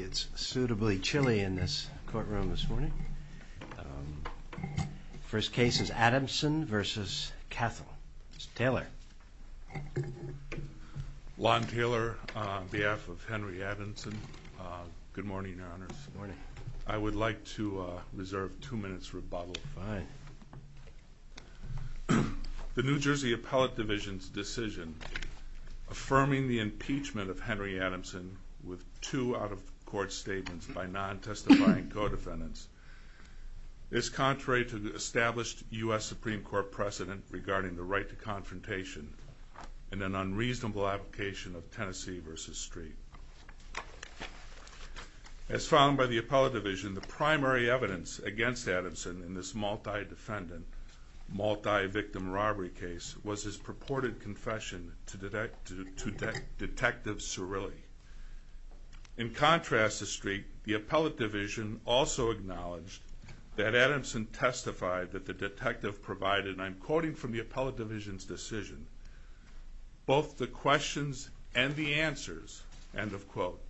It's suitably chilly in this courtroom this morning. First case is Adamson versus Cathel. Mr. Taylor. Lon Taylor on behalf of Henry Adamson. Good morning, Your Honors. I would like to reserve two minutes rebuttal. Fine. The New Affirming the impeachment of Henry Adamson with two out-of-court statements by non-testifying co-defendants is contrary to the established U.S. Supreme Court precedent regarding the right to confrontation in an unreasonable application of Tennessee v. Street. As found by the Appellate Division, the primary evidence against Adamson in this multi-defendant, multi-victim robbery case was his purported confession to Detective Cirilli. In contrast to Street, the Appellate Division also acknowledged that Adamson testified that the detective provided, and I'm quoting from the Appellate Division's decision, both the questions and the answers, end of quote,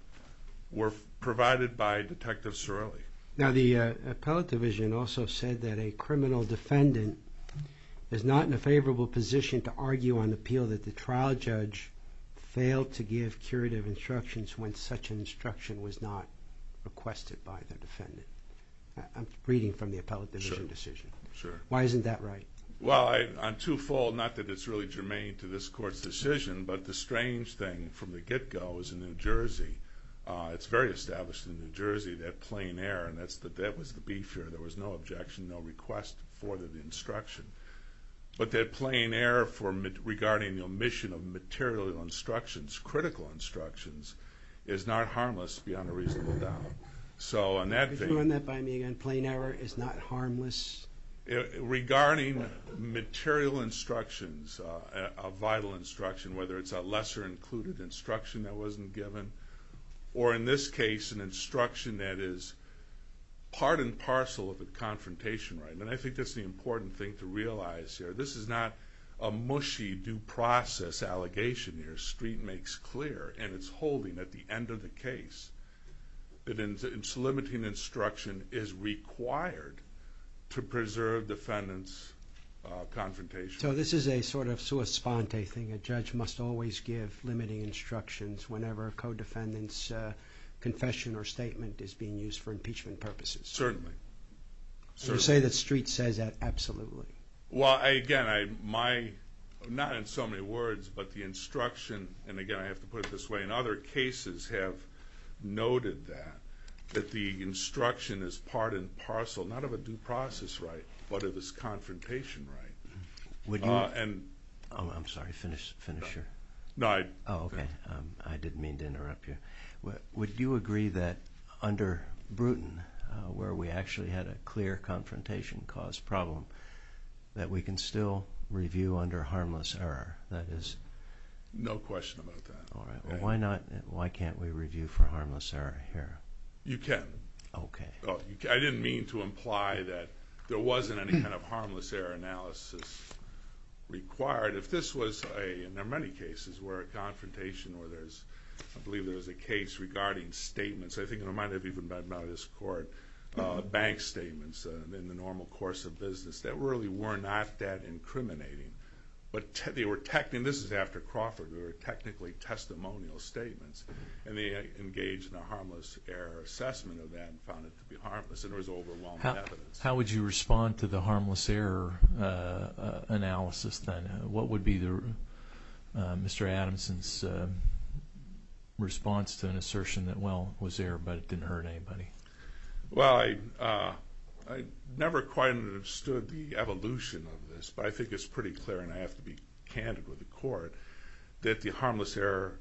were provided by Detective Cirilli. Now the Appellate Division also said that a criminal defendant is not in a favorable position to argue on appeal that the trial judge failed to give curative instructions when such instruction was not requested by the defendant. I'm reading from the Appellate Division decision. Sure. Why isn't that right? Well, I'm two-fold, not that it's really germane to this Court's decision, but the strange thing from the get-go is in New Jersey, it's very established in New Jersey that plain air, and that was the beef here, there was no objection, no request for that instruction. But that plain air regarding the omission of material instructions, critical instructions, is not harmless beyond a reasonable doubt. So on that... Could you run that by me again? Plain air is not harmless? Regarding material instructions, a vital instruction, whether it's a lesser-included instruction that wasn't given, or in this case, an instruction that is part and parcel of a confrontation, right? And I think that's the important thing to realize here. This is not a mushy due process allegation here. Street makes clear, and it's holding at the end of the case, that it's limiting instruction is required to preserve defendant's confrontation. So this is a sort of sua sponte thing. A judge must always give limiting instructions whenever a co-defendant's confession or statement is being used for impeachment purposes. Certainly. So you say that Street says that absolutely? Well, again, not in so many words, but the instruction, and again, I have to put it this way, in other cases have noted that, that the instruction is part and parcel, not of a due process right, but of this confrontation right. Would you... Oh, I'm sorry. Finish your... No, I... Oh, okay. I didn't mean to interrupt you. Would you agree that under Bruton, where we actually had a clear confrontation cause problem, that we can still review under harmless error? That is... No question about that. All right. Well, why not, why can't we review for harmless error here? You can. Okay. I didn't mean to imply that there wasn't any kind of harmless error analysis required. If this was a, in many cases, where a confrontation or there's, I believe there was a case regarding statements, I think it might have even been brought to this court, bank statements in the normal course of business, that really were not that incriminating, but they were technically, and this is after Crawford, there were technically testimonial statements, and they engaged in a harmless error assessment of that and found it to be harmless, and there was overwhelming evidence. How would you respond to harmless error analysis then? What would be Mr. Adamson's response to an assertion that, well, was there, but it didn't hurt anybody? Well, I never quite understood the evolution of this, but I think it's pretty clear, and I have to be candid with the court, that the harmless error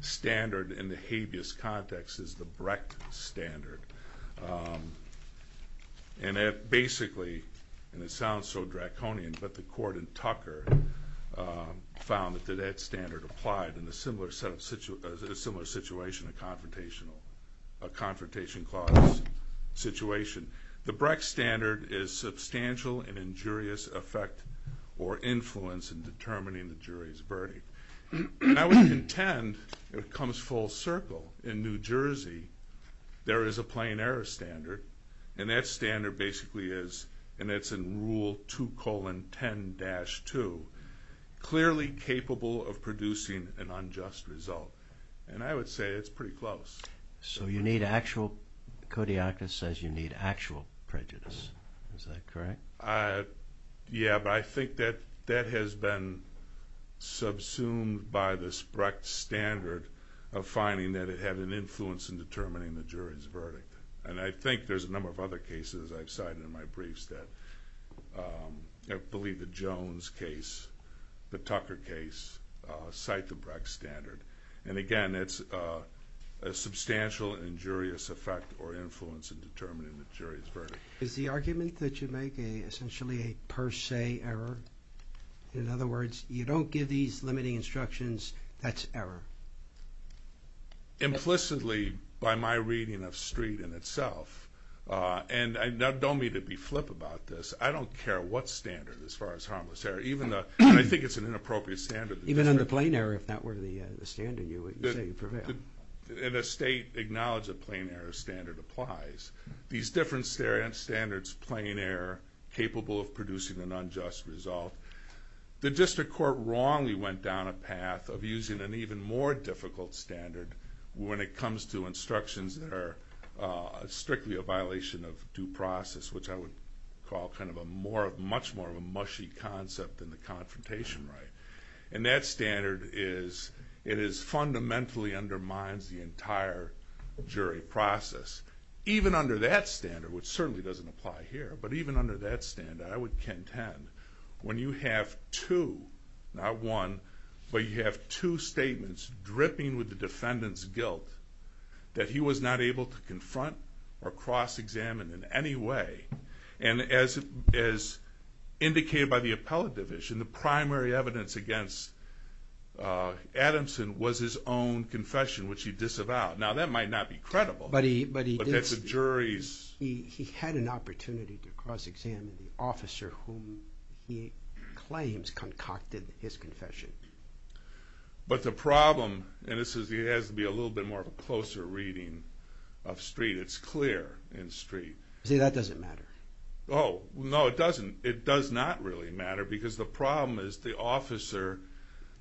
standard in the habeas context is the Brecht standard. And it basically, and it sounds so draconian, but the court in Tucker found that that standard applied in a similar situation, a confrontation clause situation. The Brecht standard is substantial and injurious effect or influence in determining the jury's judgment. I would contend it comes full circle. In New Jersey, there is a plain error standard, and that standard basically is, and it's in rule 2 colon 10 dash 2, clearly capable of producing an unjust result, and I would say it's pretty close. So you need actual, Kodiakos says you need actual prejudice. Is that correct? Yeah, but I think that that has been subsumed by this Brecht standard of finding that it had an influence in determining the jury's verdict. And I think there's a number of other cases I've cited in my briefs that, I believe the Jones case, the Tucker case, cite the Brecht standard. And again, it's a substantial injurious effect or injurious verdict. Is the argument that you make essentially a per se error? In other words, you don't give these limiting instructions, that's error? Implicitly, by my reading of street in itself, and don't mean to be flip about this, I don't care what standard as far as harmless error, even though I think it's an inappropriate standard. Even in the plain error, if that were the standard, you would say you prevail. In a state, acknowledge a plain error standard applies. These different standards, plain error, capable of producing an unjust result. The district court wrongly went down a path of using an even more difficult standard when it comes to instructions that are strictly a violation of due process, which I would call kind of a more of much more of a mushy concept than the confrontation right. And that standard is, it is fundamentally undermines the entire jury process. Even under that standard, which certainly doesn't apply here, but even under that standard, I would contend when you have two, not one, but you have two statements dripping with the defendant's guilt, that he was not able to confront or cross examine in any way. And as indicated by the appellate division, the primary evidence against Adamson was his own confession, which he disavowed. Now that might not be credible, but that's a jury's... He had an opportunity to cross examine the officer whom he claims concocted his confession. But the problem, and this is, it has to be a little bit more of a closer reading of Street. It's clear in Street. See, that doesn't matter. Oh no, it doesn't. It does not really matter because the problem is the officer,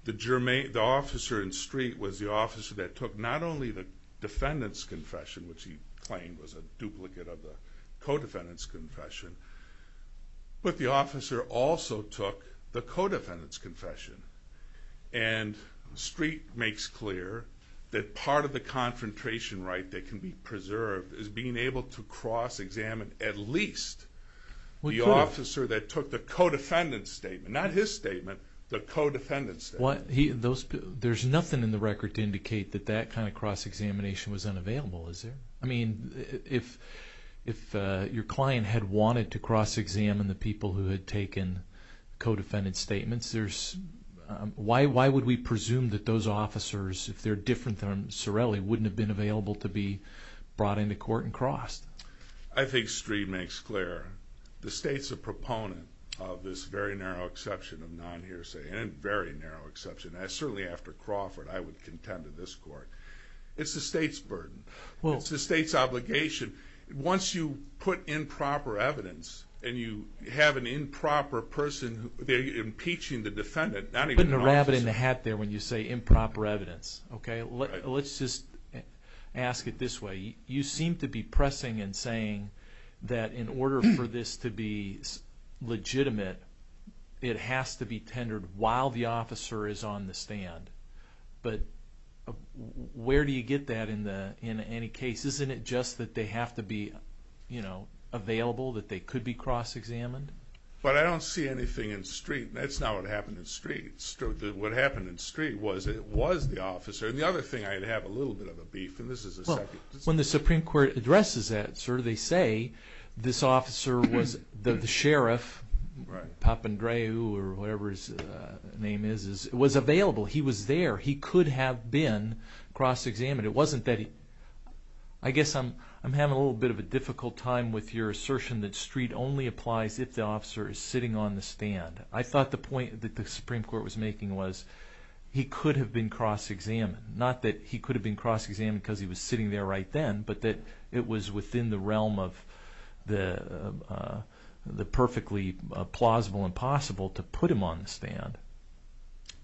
the officer in Street was the officer that took not only the defendant's confession, which he claimed was a duplicate of the co-defendant's confession, but the officer also took the co-defendant's confession. And Street makes clear that part of the confrontation right that can be preserved is being able to cross examine at least the officer that took the co-defendant's statement, not his statement, the co-defendant's statement. There's nothing in the record to indicate that that kind of cross examination was unavailable, is there? I mean, if your client had wanted to cross examine the people who had taken co-defendant's statements, there's... Why would we presume that those officers, if they're different than Sorelli, wouldn't have been available to be brought into court and crossed? I think Street makes clear the state's a proponent of this very narrow exception of non-hearsay, and a very narrow exception. Certainly after Crawford, I would contend to this court. It's the state's burden. It's the state's obligation. Once you put improper evidence and you have an improper person, they're impeaching the defendant, not even the officer. You're putting a rabbit in a hat there when you say improper evidence, okay? Let's just ask it this way. You seem to be pressing and saying that in order for this to be legitimate, it has to be tendered while the officer is on the stand. But where do you get that in any case? Isn't it just that they have to be available, that they could be cross examined? But I don't see anything in Street. That's not what happened in Street. What happened in Street was the officer. And the other thing, I'd have a little bit of a beef, and this is a second. When the Supreme Court addresses that, sir, they say this officer was the sheriff, Papandreou or whatever his name is, was available. He was there. He could have been cross examined. It wasn't that he... I guess I'm having a little bit of a difficult time with your assertion that Street only applies if the officer is sitting on the stand. I thought the point that the Supreme Court was making was he could have been cross examined. Not that he could have been cross examined because he was sitting there right then, but that it was within the realm of the perfectly plausible and possible to put him on the stand.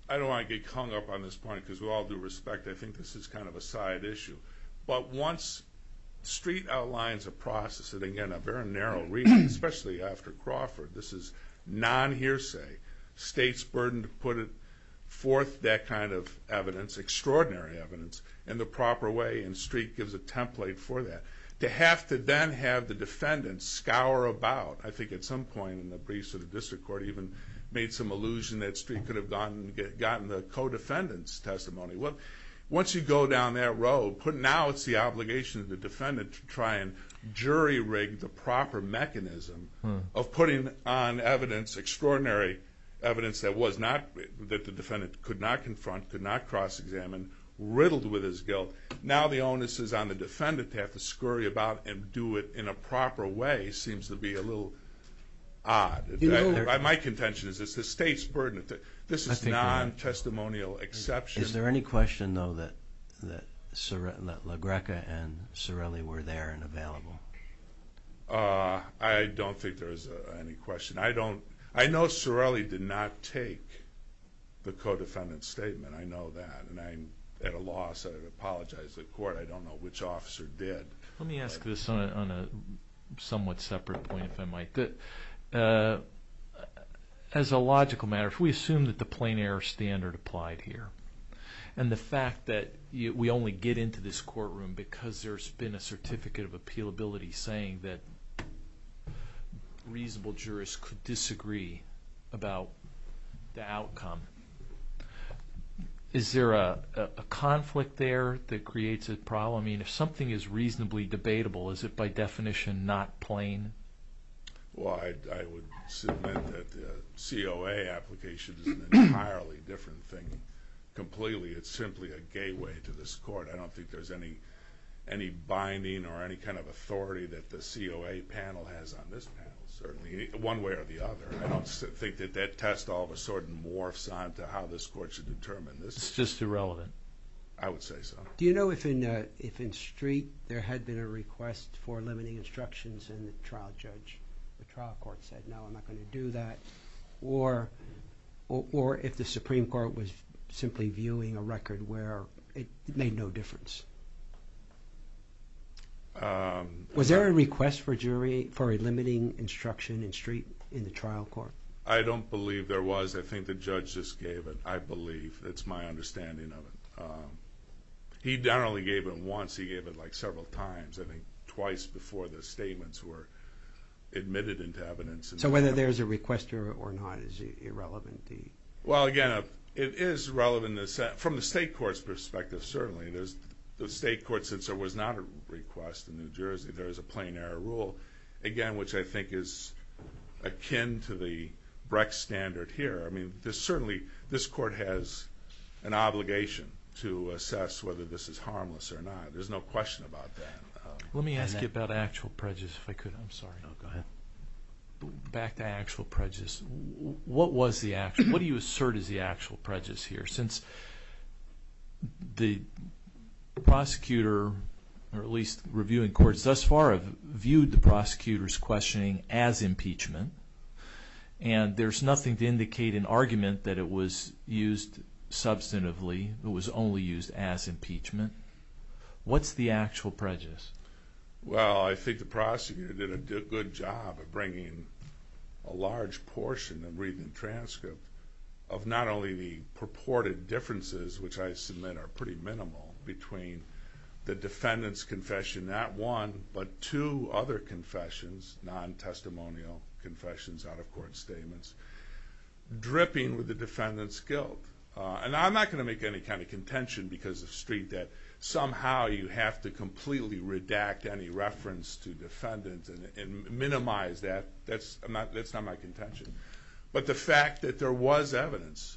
I don't want to get hung up on this point, because with all due respect, I think this is kind of a side issue. But once Street outlines a process, and again, a very narrow reason, especially after State's burden to put it forth that kind of evidence, extraordinary evidence, in the proper way, and Street gives a template for that, to have to then have the defendant scour about, I think at some point in the briefs of the District Court, even made some allusion that Street could have gotten the co-defendant's testimony. Once you go down that road, now it's the obligation of the defendant to try and jury rig the proper mechanism of putting on extraordinary evidence that the defendant could not confront, could not cross examine, riddled with his guilt. Now the onus is on the defendant to have to scurry about and do it in a proper way seems to be a little odd. My contention is it's the State's burden. This is non-testimonial exception. Is there any question though that I know Sorelli did not take the co-defendant's statement, I know that, and I'm at a loss, I'd apologize to the Court, I don't know which officer did. Let me ask this on a somewhat separate point, if I might. As a logical matter, if we assume that the plain error standard applied here, and the fact that we only get into this courtroom because there's been a certificate of appealability saying that reasonable jurists could disagree about the outcome, is there a conflict there that creates a problem? I mean, if something is reasonably debatable, is it by definition not plain? Well, I would submit that the COA application is an entirely different thing completely. It's simply a gateway to this Court. I don't think there's any binding or any kind of authority that the COA panel has on this panel, certainly, one way or the other. I don't think that that test all of a sudden morphs onto how this Court should determine this. It's just irrelevant? I would say so. Do you know if in Street there had been a request for limiting instructions and the trial judge, the trial court said, no, I'm not going to do that, or if the Supreme Court was simply viewing a record where it made no difference? Was there a request for a jury, for a limiting instruction in Street in the trial court? I don't believe there was. I think the judge just gave it. I believe. That's my understanding of it. He not only gave it once, he gave it like several times, I think twice before the statements were admitted into evidence. So whether there's a request or not is irrelevant? Well, again, it is relevant from the State Court's perspective, certainly. The State Court, since there was not a request in New Jersey, there is a plain error rule, again, which I think is akin to the Brex standard here. I mean, there's certainly, this Court has an obligation to assess whether this is harmless or not. There's no question about that. Let me ask you about actual prejudice, if I could. I'm sorry. No, go ahead. Back to actual prejudice, what was the actual, what do you assert is the actual prejudice here? Since the prosecutor, or at least reviewing courts thus far have viewed the prosecutor's questioning as impeachment, and there's nothing to indicate an argument that it was used substantively, it was only used as impeachment, what's the actual prejudice? Well, I think the prosecutor did a good job of bringing a large portion of transcript of not only the purported differences, which I submit are pretty minimal, between the defendant's confession, not one, but two other confessions, non-testimonial confessions, out-of-court statements, dripping with the defendant's guilt. And I'm not going to make any kind of contention because of street that somehow you have to completely redact any reference to defendants and minimize that. That's not my contention. But the fact that there was evidence,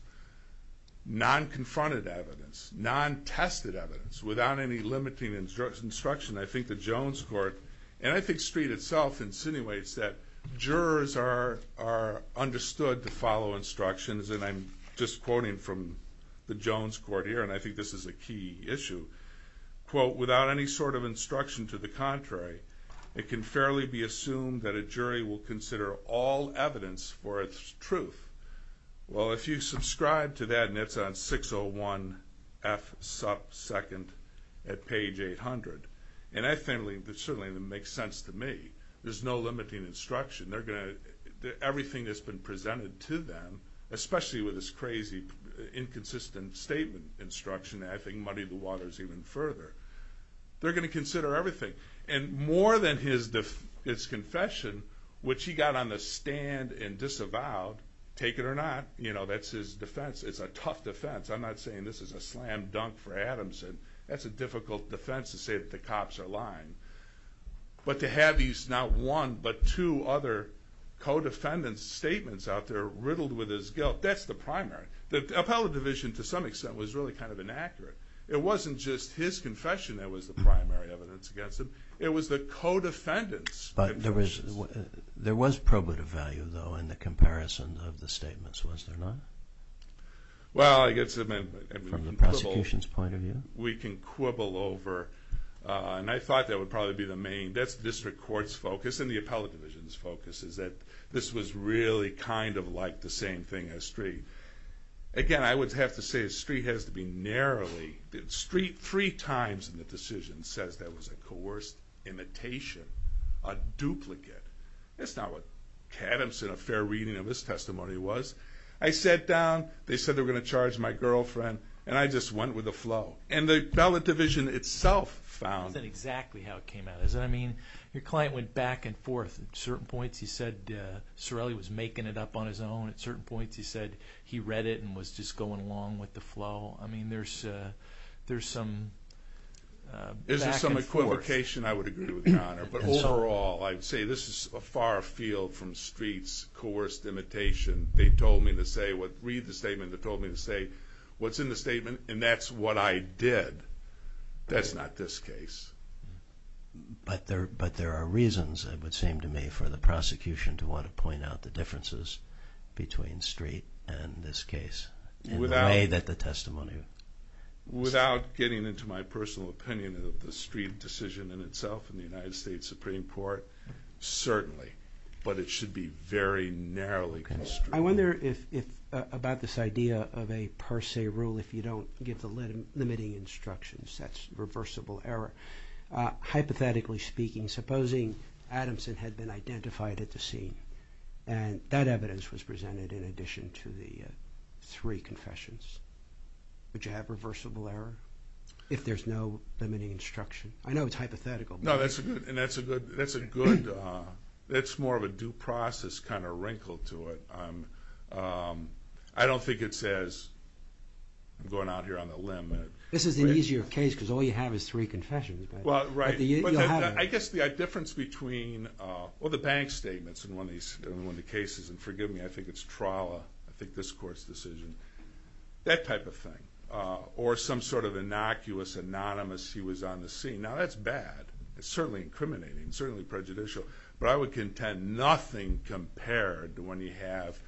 non-confronted evidence, non-tested evidence, without any limiting instruction, I think the Jones Court, and I think street itself insinuates that jurors are understood to follow instructions, and I'm just quoting from the Jones Court here, and I think this is a key issue, quote, without any sort of instruction to the contrary, it can fairly be assumed that a jury will consider all evidence for its truth. Well, if you subscribe to that, and it's on 601F 2nd at page 800, and I think it certainly makes sense to me, there's no limiting instruction. Everything that's been presented to them, especially with this crazy inconsistent statement instruction, and I think muddy the waters even further. They're going to consider everything. And more than his confession, which he got on the stand and disavowed, take it or not, you know, that's his defense. It's a tough defense. I'm not saying this is a slam dunk for Adamson. That's a difficult defense to say that the cops are lying. But to have these, not one, but two other co-defendants' statements out there riddled with his guilt, that's the primary. The appellate division, to some extent, was really kind of inaccurate. It wasn't just his confession that was the primary evidence against him. It was the co-defendant's. But there was probative value, though, in the comparison of the statements, was there not? Well, I guess from the prosecution's point of view, we can quibble over, and I thought that would probably be the main, that's the district court's focus and the appellate division's focus, is that this was really kind of like the same thing as Street. Again, I would have to say that Street has to be narrowly, Street three times in the decision says that was a coerced imitation, a duplicate. That's not what Adamson, a fair reading of his testimony, was. I sat down, they said they were going to charge my girlfriend, and I just went with the flow. And the appellate division itself found... That's exactly how it came out, isn't it? I mean, your client went back and forth at certain points. He said Cerelli was making it up on his own. At certain points, he said he read it and was just going along with the flow. I mean, there's some back and forth. Is there some equivocation? I would agree with you, Your Honor. But overall, I'd say this is a far field from Street's coerced imitation. They told me to say, read the statement, they told me to say what's in the statement, and that's what I did. That's not this case. But there are reasons, it would seem to me, for the prosecution to want to point out the differences between Street and this case, in the way that the testimony... Without getting into my personal opinion of the Street decision in itself and the United States Supreme Court, certainly. But it should be very narrowly construed. I wonder if, about this idea of a per se rule, if you don't give the limiting instructions, that's reversible error. Hypothetically speaking, supposing Adamson had been identified at the scene, and that evidence was presented in addition to the three confessions, would you have reversible error, if there's no limiting instruction? I know it's hypothetical. No, that's a good, that's more of a due process kind of wrinkle to it. I don't think it says, I'm going out here on a limb... This is an easier case because all you have is three confessions. Well, right. I guess the difference between, well, the bank statements in one of the cases, and forgive me, I think it's Trolla, I think this court's decision, that type of thing. Or some sort of innocuous, anonymous, he was on the scene. Now, that's bad. It's certainly bad to have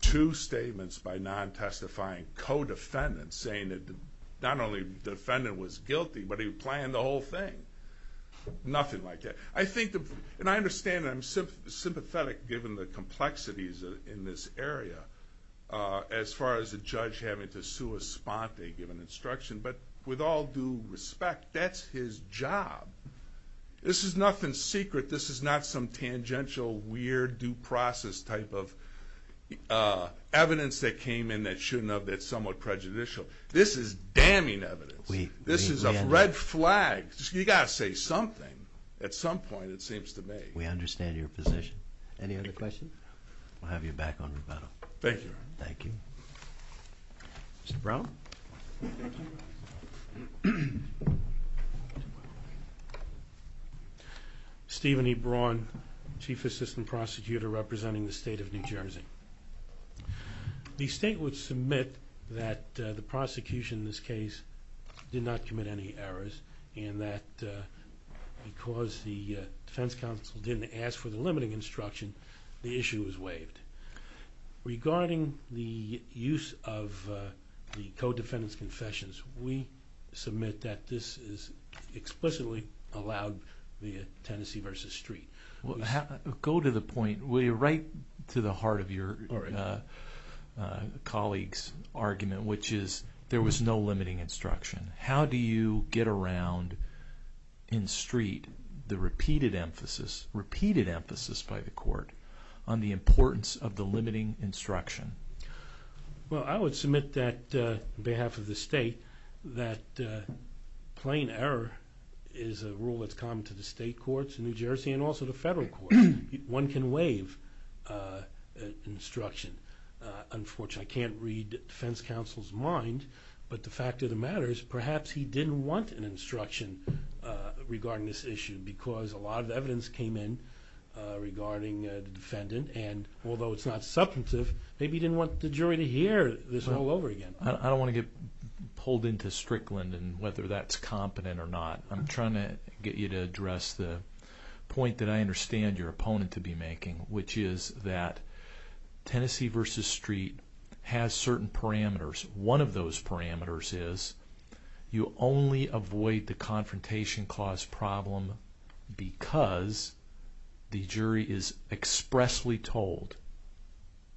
two statements by non-testifying co-defendants saying that not only the defendant was guilty, but he planned the whole thing. Nothing like that. I think, and I understand, and I'm sympathetic given the complexities in this area, as far as the judge having to sue a sponte, given instruction, but with all due respect, that's his job. This is nothing secret. This is not some tangential, weird, due process type of evidence that came in that shouldn't have, that's somewhat prejudicial. This is damning evidence. This is a red flag. You've got to say something at some point, it seems to me. We understand your position. Any other questions? We'll have you back on rebuttal. Thank you. Thank you. Mr. Brown? Stephen E. Brown, Chief Assistant Prosecutor representing the state of New Jersey. The state would submit that the prosecution in this case did not commit any errors, and that because the defense counsel didn't ask for the limiting instruction, the issue was waived. Regarding the use of the co-defendant's confessions, we submit that this is explicitly allowed via Tennessee v. Street. Go to the point, right to the heart of your colleague's argument, which is there was no limiting instruction. How do you get around in Street the repeated emphasis, repeated emphasis by the court, on the importance of the limiting instruction? Well, I would submit that, on behalf of the state, that plain error is a rule that's common to the state courts in New Jersey and also the federal courts. One can waive instruction. Unfortunately, I can't read defense counsel's mind, but the fact of the matter is perhaps he didn't want an instruction regarding this issue because a lot of evidence came in regarding the defendant, and although it's not substantive, maybe he didn't want the jury to hear this all over again. I don't want to get pulled into Strickland and whether that's competent or not. I'm trying to get you to address the point that I understand your opponent to be making, which is that Tennessee v. Street has certain parameters. One of those parameters is you only avoid the expressly told,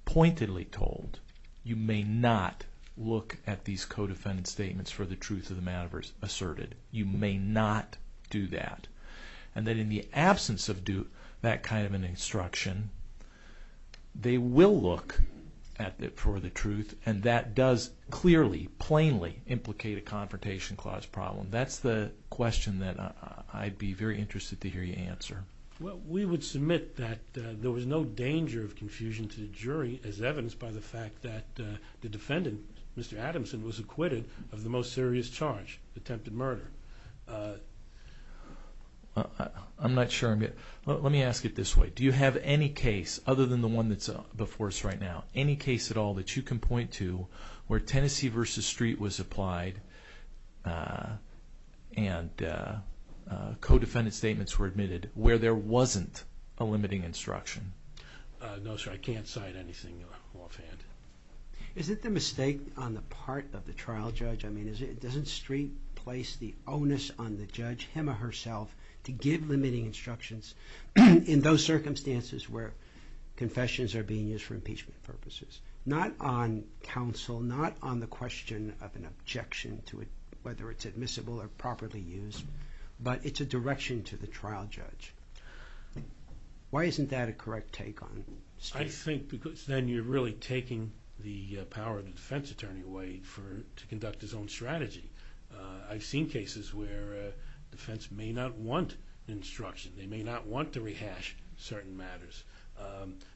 pointedly told, you may not look at these co-defendant statements for the truth of the matter asserted. You may not do that, and that in the absence of that kind of an instruction, they will look at it for the truth, and that does clearly, plainly implicate a confrontation clause problem. That's the question that I'd be very interested to hear you answer. Well, we would submit that there was no danger of confusion to the jury as evidenced by the fact that the defendant, Mr. Adamson, was acquitted of the most serious charge, attempted murder. I'm not sure. Let me ask it this way. Do you have any case, other than the one that's before us right now, any case at all that you can point to where Tennessee v. Street was applied and co-defendant statements were admitted where there wasn't a limiting instruction? No, sir. I can't cite anything offhand. Is it the mistake on the part of the trial judge? I mean, doesn't Street place the onus on the judge, him or herself, to give limiting instructions in those circumstances where confessions are being used for impeachment purposes? Not on counsel, not on the question of an objection to it, whether it's admissible or properly used, but it's a direction to the trial judge. Why isn't that a correct take on Street? I think because then you're really taking the power of the defense attorney away for, to conduct his own strategy. I've seen cases where defense may not want instruction. They may not want to rehash certain matters.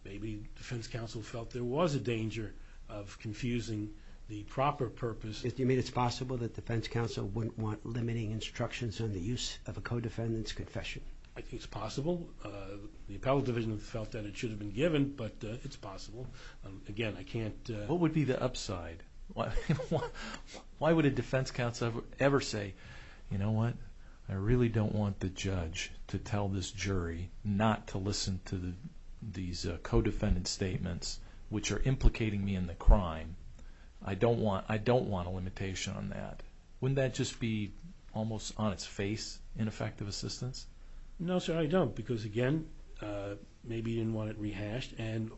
Maybe defense felt there was a danger of confusing the proper purpose. Do you mean it's possible that defense counsel wouldn't want limiting instructions on the use of a co-defendant's confession? I think it's possible. The appellate division felt that it should have been given, but it's possible. Again, I can't... What would be the upside? Why would a defense counsel ever say, you know what, I really don't want the judge to tell this jury not to listen to these co-defendant statements, which are implicating me in the crime. I don't want a limitation on that. Wouldn't that just be almost on its face ineffective assistance? No sir, I don't. Because again, maybe you didn't want it rehashed and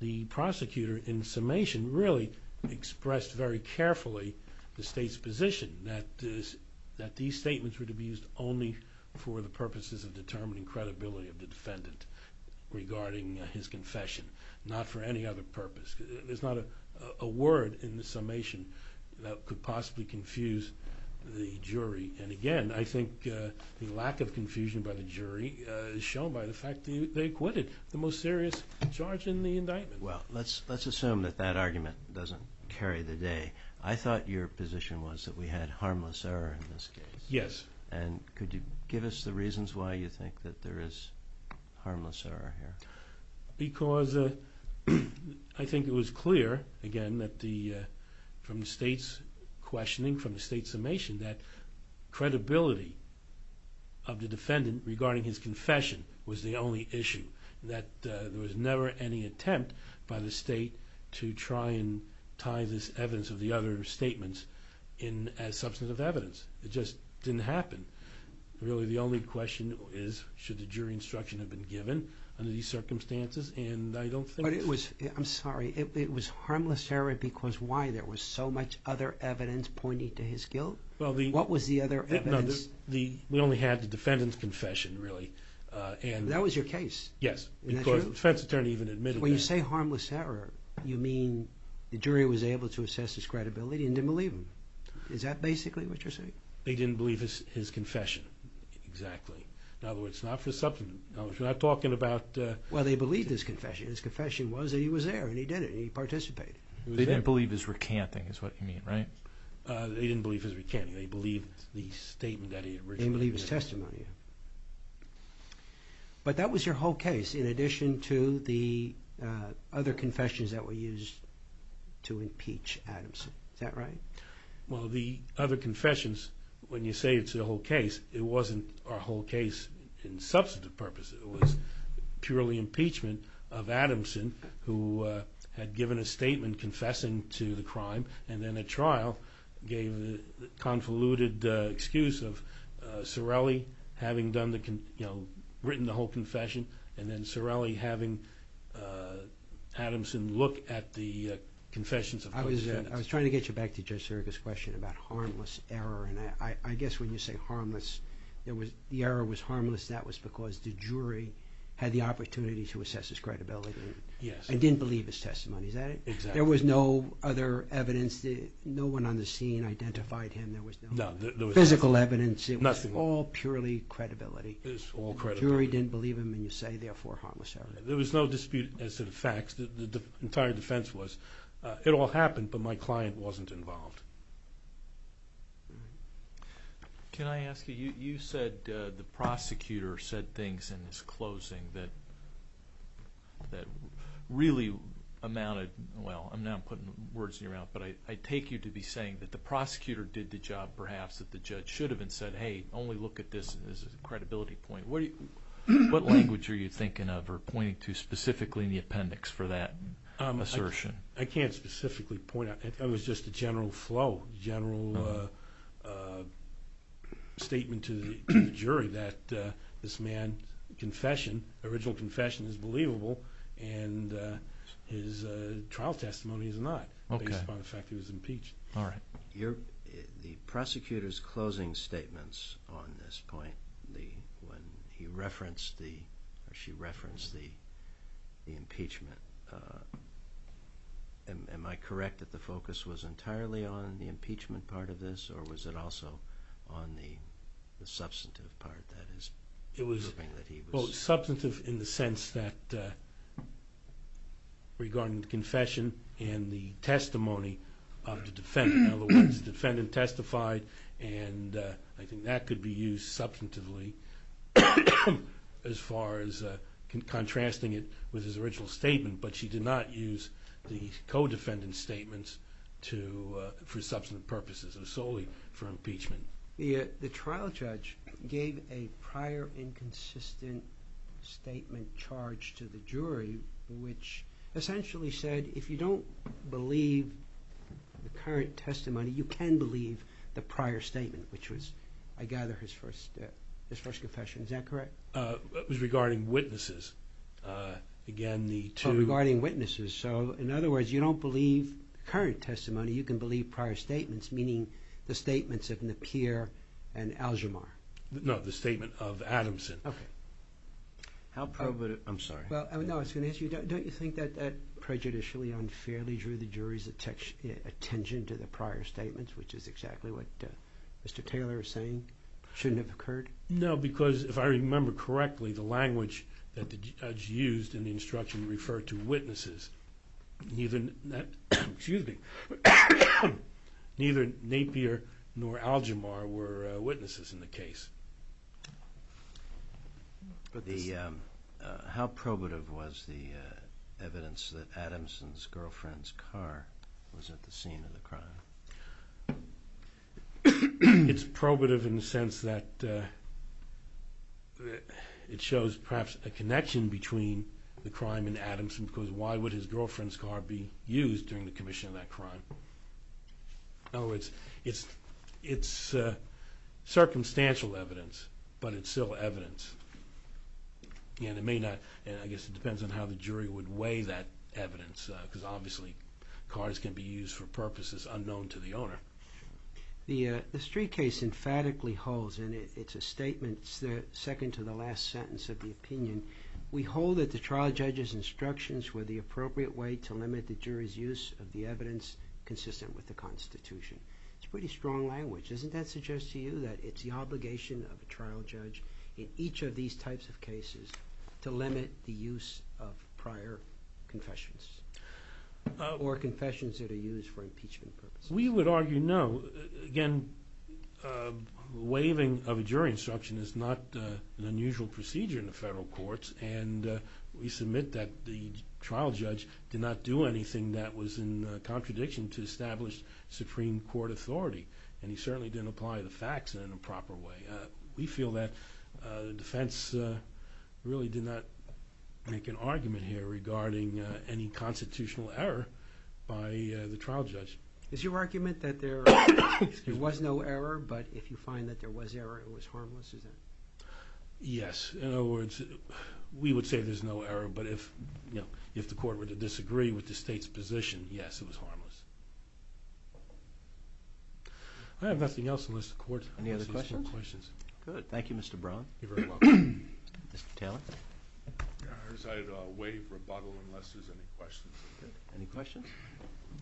the prosecutor in summation really expressed very carefully the state's position that these statements were to be used only for the purposes of determining credibility of the defendant regarding his confession, not for any other purpose. There's not a word in the summation that could possibly confuse the jury. And again, I think the lack of confusion by the jury is shown by the fact they acquitted the most serious charge in the indictment. Well, let's assume that that argument doesn't carry the day. I thought your position was that we had harmless error in this case. Yes. And could you give us the reasons why you think that there is harmless error here? Because I think it was clear, again, that from the state's questioning, from the state's summation, that credibility of the defendant regarding his confession was the only issue. That there was never any attempt by the state to try and tie this evidence of the other statements as substantive evidence. It just didn't happen. Really the only question is should the jury instruction have been given under these circumstances and I don't think... But it was, I'm sorry, it was harmless error because why? There was so much other evidence pointing to his guilt? What was the other evidence? We only had the defendant's confession really. That was your case? Yes. Because the defense attorney even admitted that. When you say to assess his credibility and didn't believe him. Is that basically what you're saying? They didn't believe his confession, exactly. In other words, not for substantive. We're not talking about... Well, they believed his confession. His confession was that he was there and he did it and he participated. They didn't believe his recanting is what you mean, right? They didn't believe his recanting. They believed the statement that he had written. They believed his testimony. But that was your whole case in addition to the other confessions that were used to impeach Adamson. Is that right? Well, the other confessions, when you say it's the whole case, it wasn't our whole case in substantive purpose. It was purely impeachment of Adamson who had given a statement confessing to the crime and then at trial gave the convoluted excuse of Sorelli having written the whole confession and then Sorelli having Adamson look at the confessions of other defendants. I was trying to get you back to Judge Serga's question about harmless error. I guess when you say harmless, the error was harmless. That was because the jury had the opportunity to assess his credibility and didn't believe his testimony. Is that it? There was no other evidence. No one on the scene identified him. There was no physical evidence. It was all purely credibility. The jury didn't believe him and you say therefore harmless error. There was no dispute as to the facts. The entire defense was it all happened but my client wasn't involved. Can I ask you, you said the prosecutor said things in his amount of, well I'm now putting words in your mouth, but I take you to be saying that the prosecutor did the job perhaps that the judge should have and said, hey only look at this as a credibility point. What language are you thinking of or pointing to specifically in the appendix for that assertion? I can't specifically point out. It was just a general flow, general statement to the jury that this man's confession, original confession is believable and his trial testimony is not based upon the fact he was impeached. All right. The prosecutor's closing statements on this point, when he referenced or she referenced the impeachment, am I correct that the focus was entirely on the impeachment part of this or was it also on the substantive part that is? It was both substantive in the sense that regarding the confession and the testimony of the defendant. In other words, the defendant testified and I think that could be used substantively as far as contrasting it with his original statement but she did not use the co-defendant statements for substantive purposes or solely for impeachment. The trial judge gave a prior inconsistent statement charge to the jury which essentially said if you don't believe the current testimony, you can believe the prior statement which was, I gather, his first confession. Is that correct? It was regarding witnesses. Again, the two... Regarding witnesses. So, in other words, you don't believe current testimony, you can believe prior statements, meaning the statements of Napier and Algemar. No, the statement of Adamson. Okay. I'm sorry. Well, I was going to ask you, don't you think that prejudicially unfairly drew the jury's attention to the prior statements, which is exactly what Mr. Taylor is saying shouldn't have occurred? No, because if I remember correctly, the language that the judge used in the instruction referred to witnesses. Neither Napier nor Algemar were witnesses in the case. How probative was the evidence that Adamson's girlfriend's car was at the scene of the crime? It's probative in the sense that it shows perhaps a connection between the crime and his girlfriend's car being used during the commission of that crime. In other words, it's circumstantial evidence, but it's still evidence. And it may not... I guess it depends on how the jury would weigh that evidence, because obviously cars can be used for purposes unknown to the owner. The street case emphatically holds, and it's a statement, it's the second to the last sentence of the opinion, we hold that the trial judge's instructions were the appropriate way to limit the jury's use of the evidence consistent with the Constitution. It's pretty strong language. Doesn't that suggest to you that it's the obligation of a trial judge in each of these types of cases to limit the use of prior confessions, or confessions that are used for impeachment purposes? We would argue no. Again, waiving of a jury instruction is not an unusual procedure in the federal courts, and we submit that the trial judge did not do anything that was in contradiction to established Supreme Court authority, and he certainly didn't apply the facts in a proper way. We feel that the defense really did not make an argument here regarding any constitutional error by the trial judge. Is your argument that there was no error, but if you find that there was error, it was harmless? Yes. In other words, we would say there's no error, but if the court were to disagree with the state's position, yes, it was harmless. I have nothing else on this court. Any other questions? Good. Thank you, Mr. Braun. You're very welcome. Mr. Taylor? I decided to waive rebuttal unless there's any questions. Good. Any questions?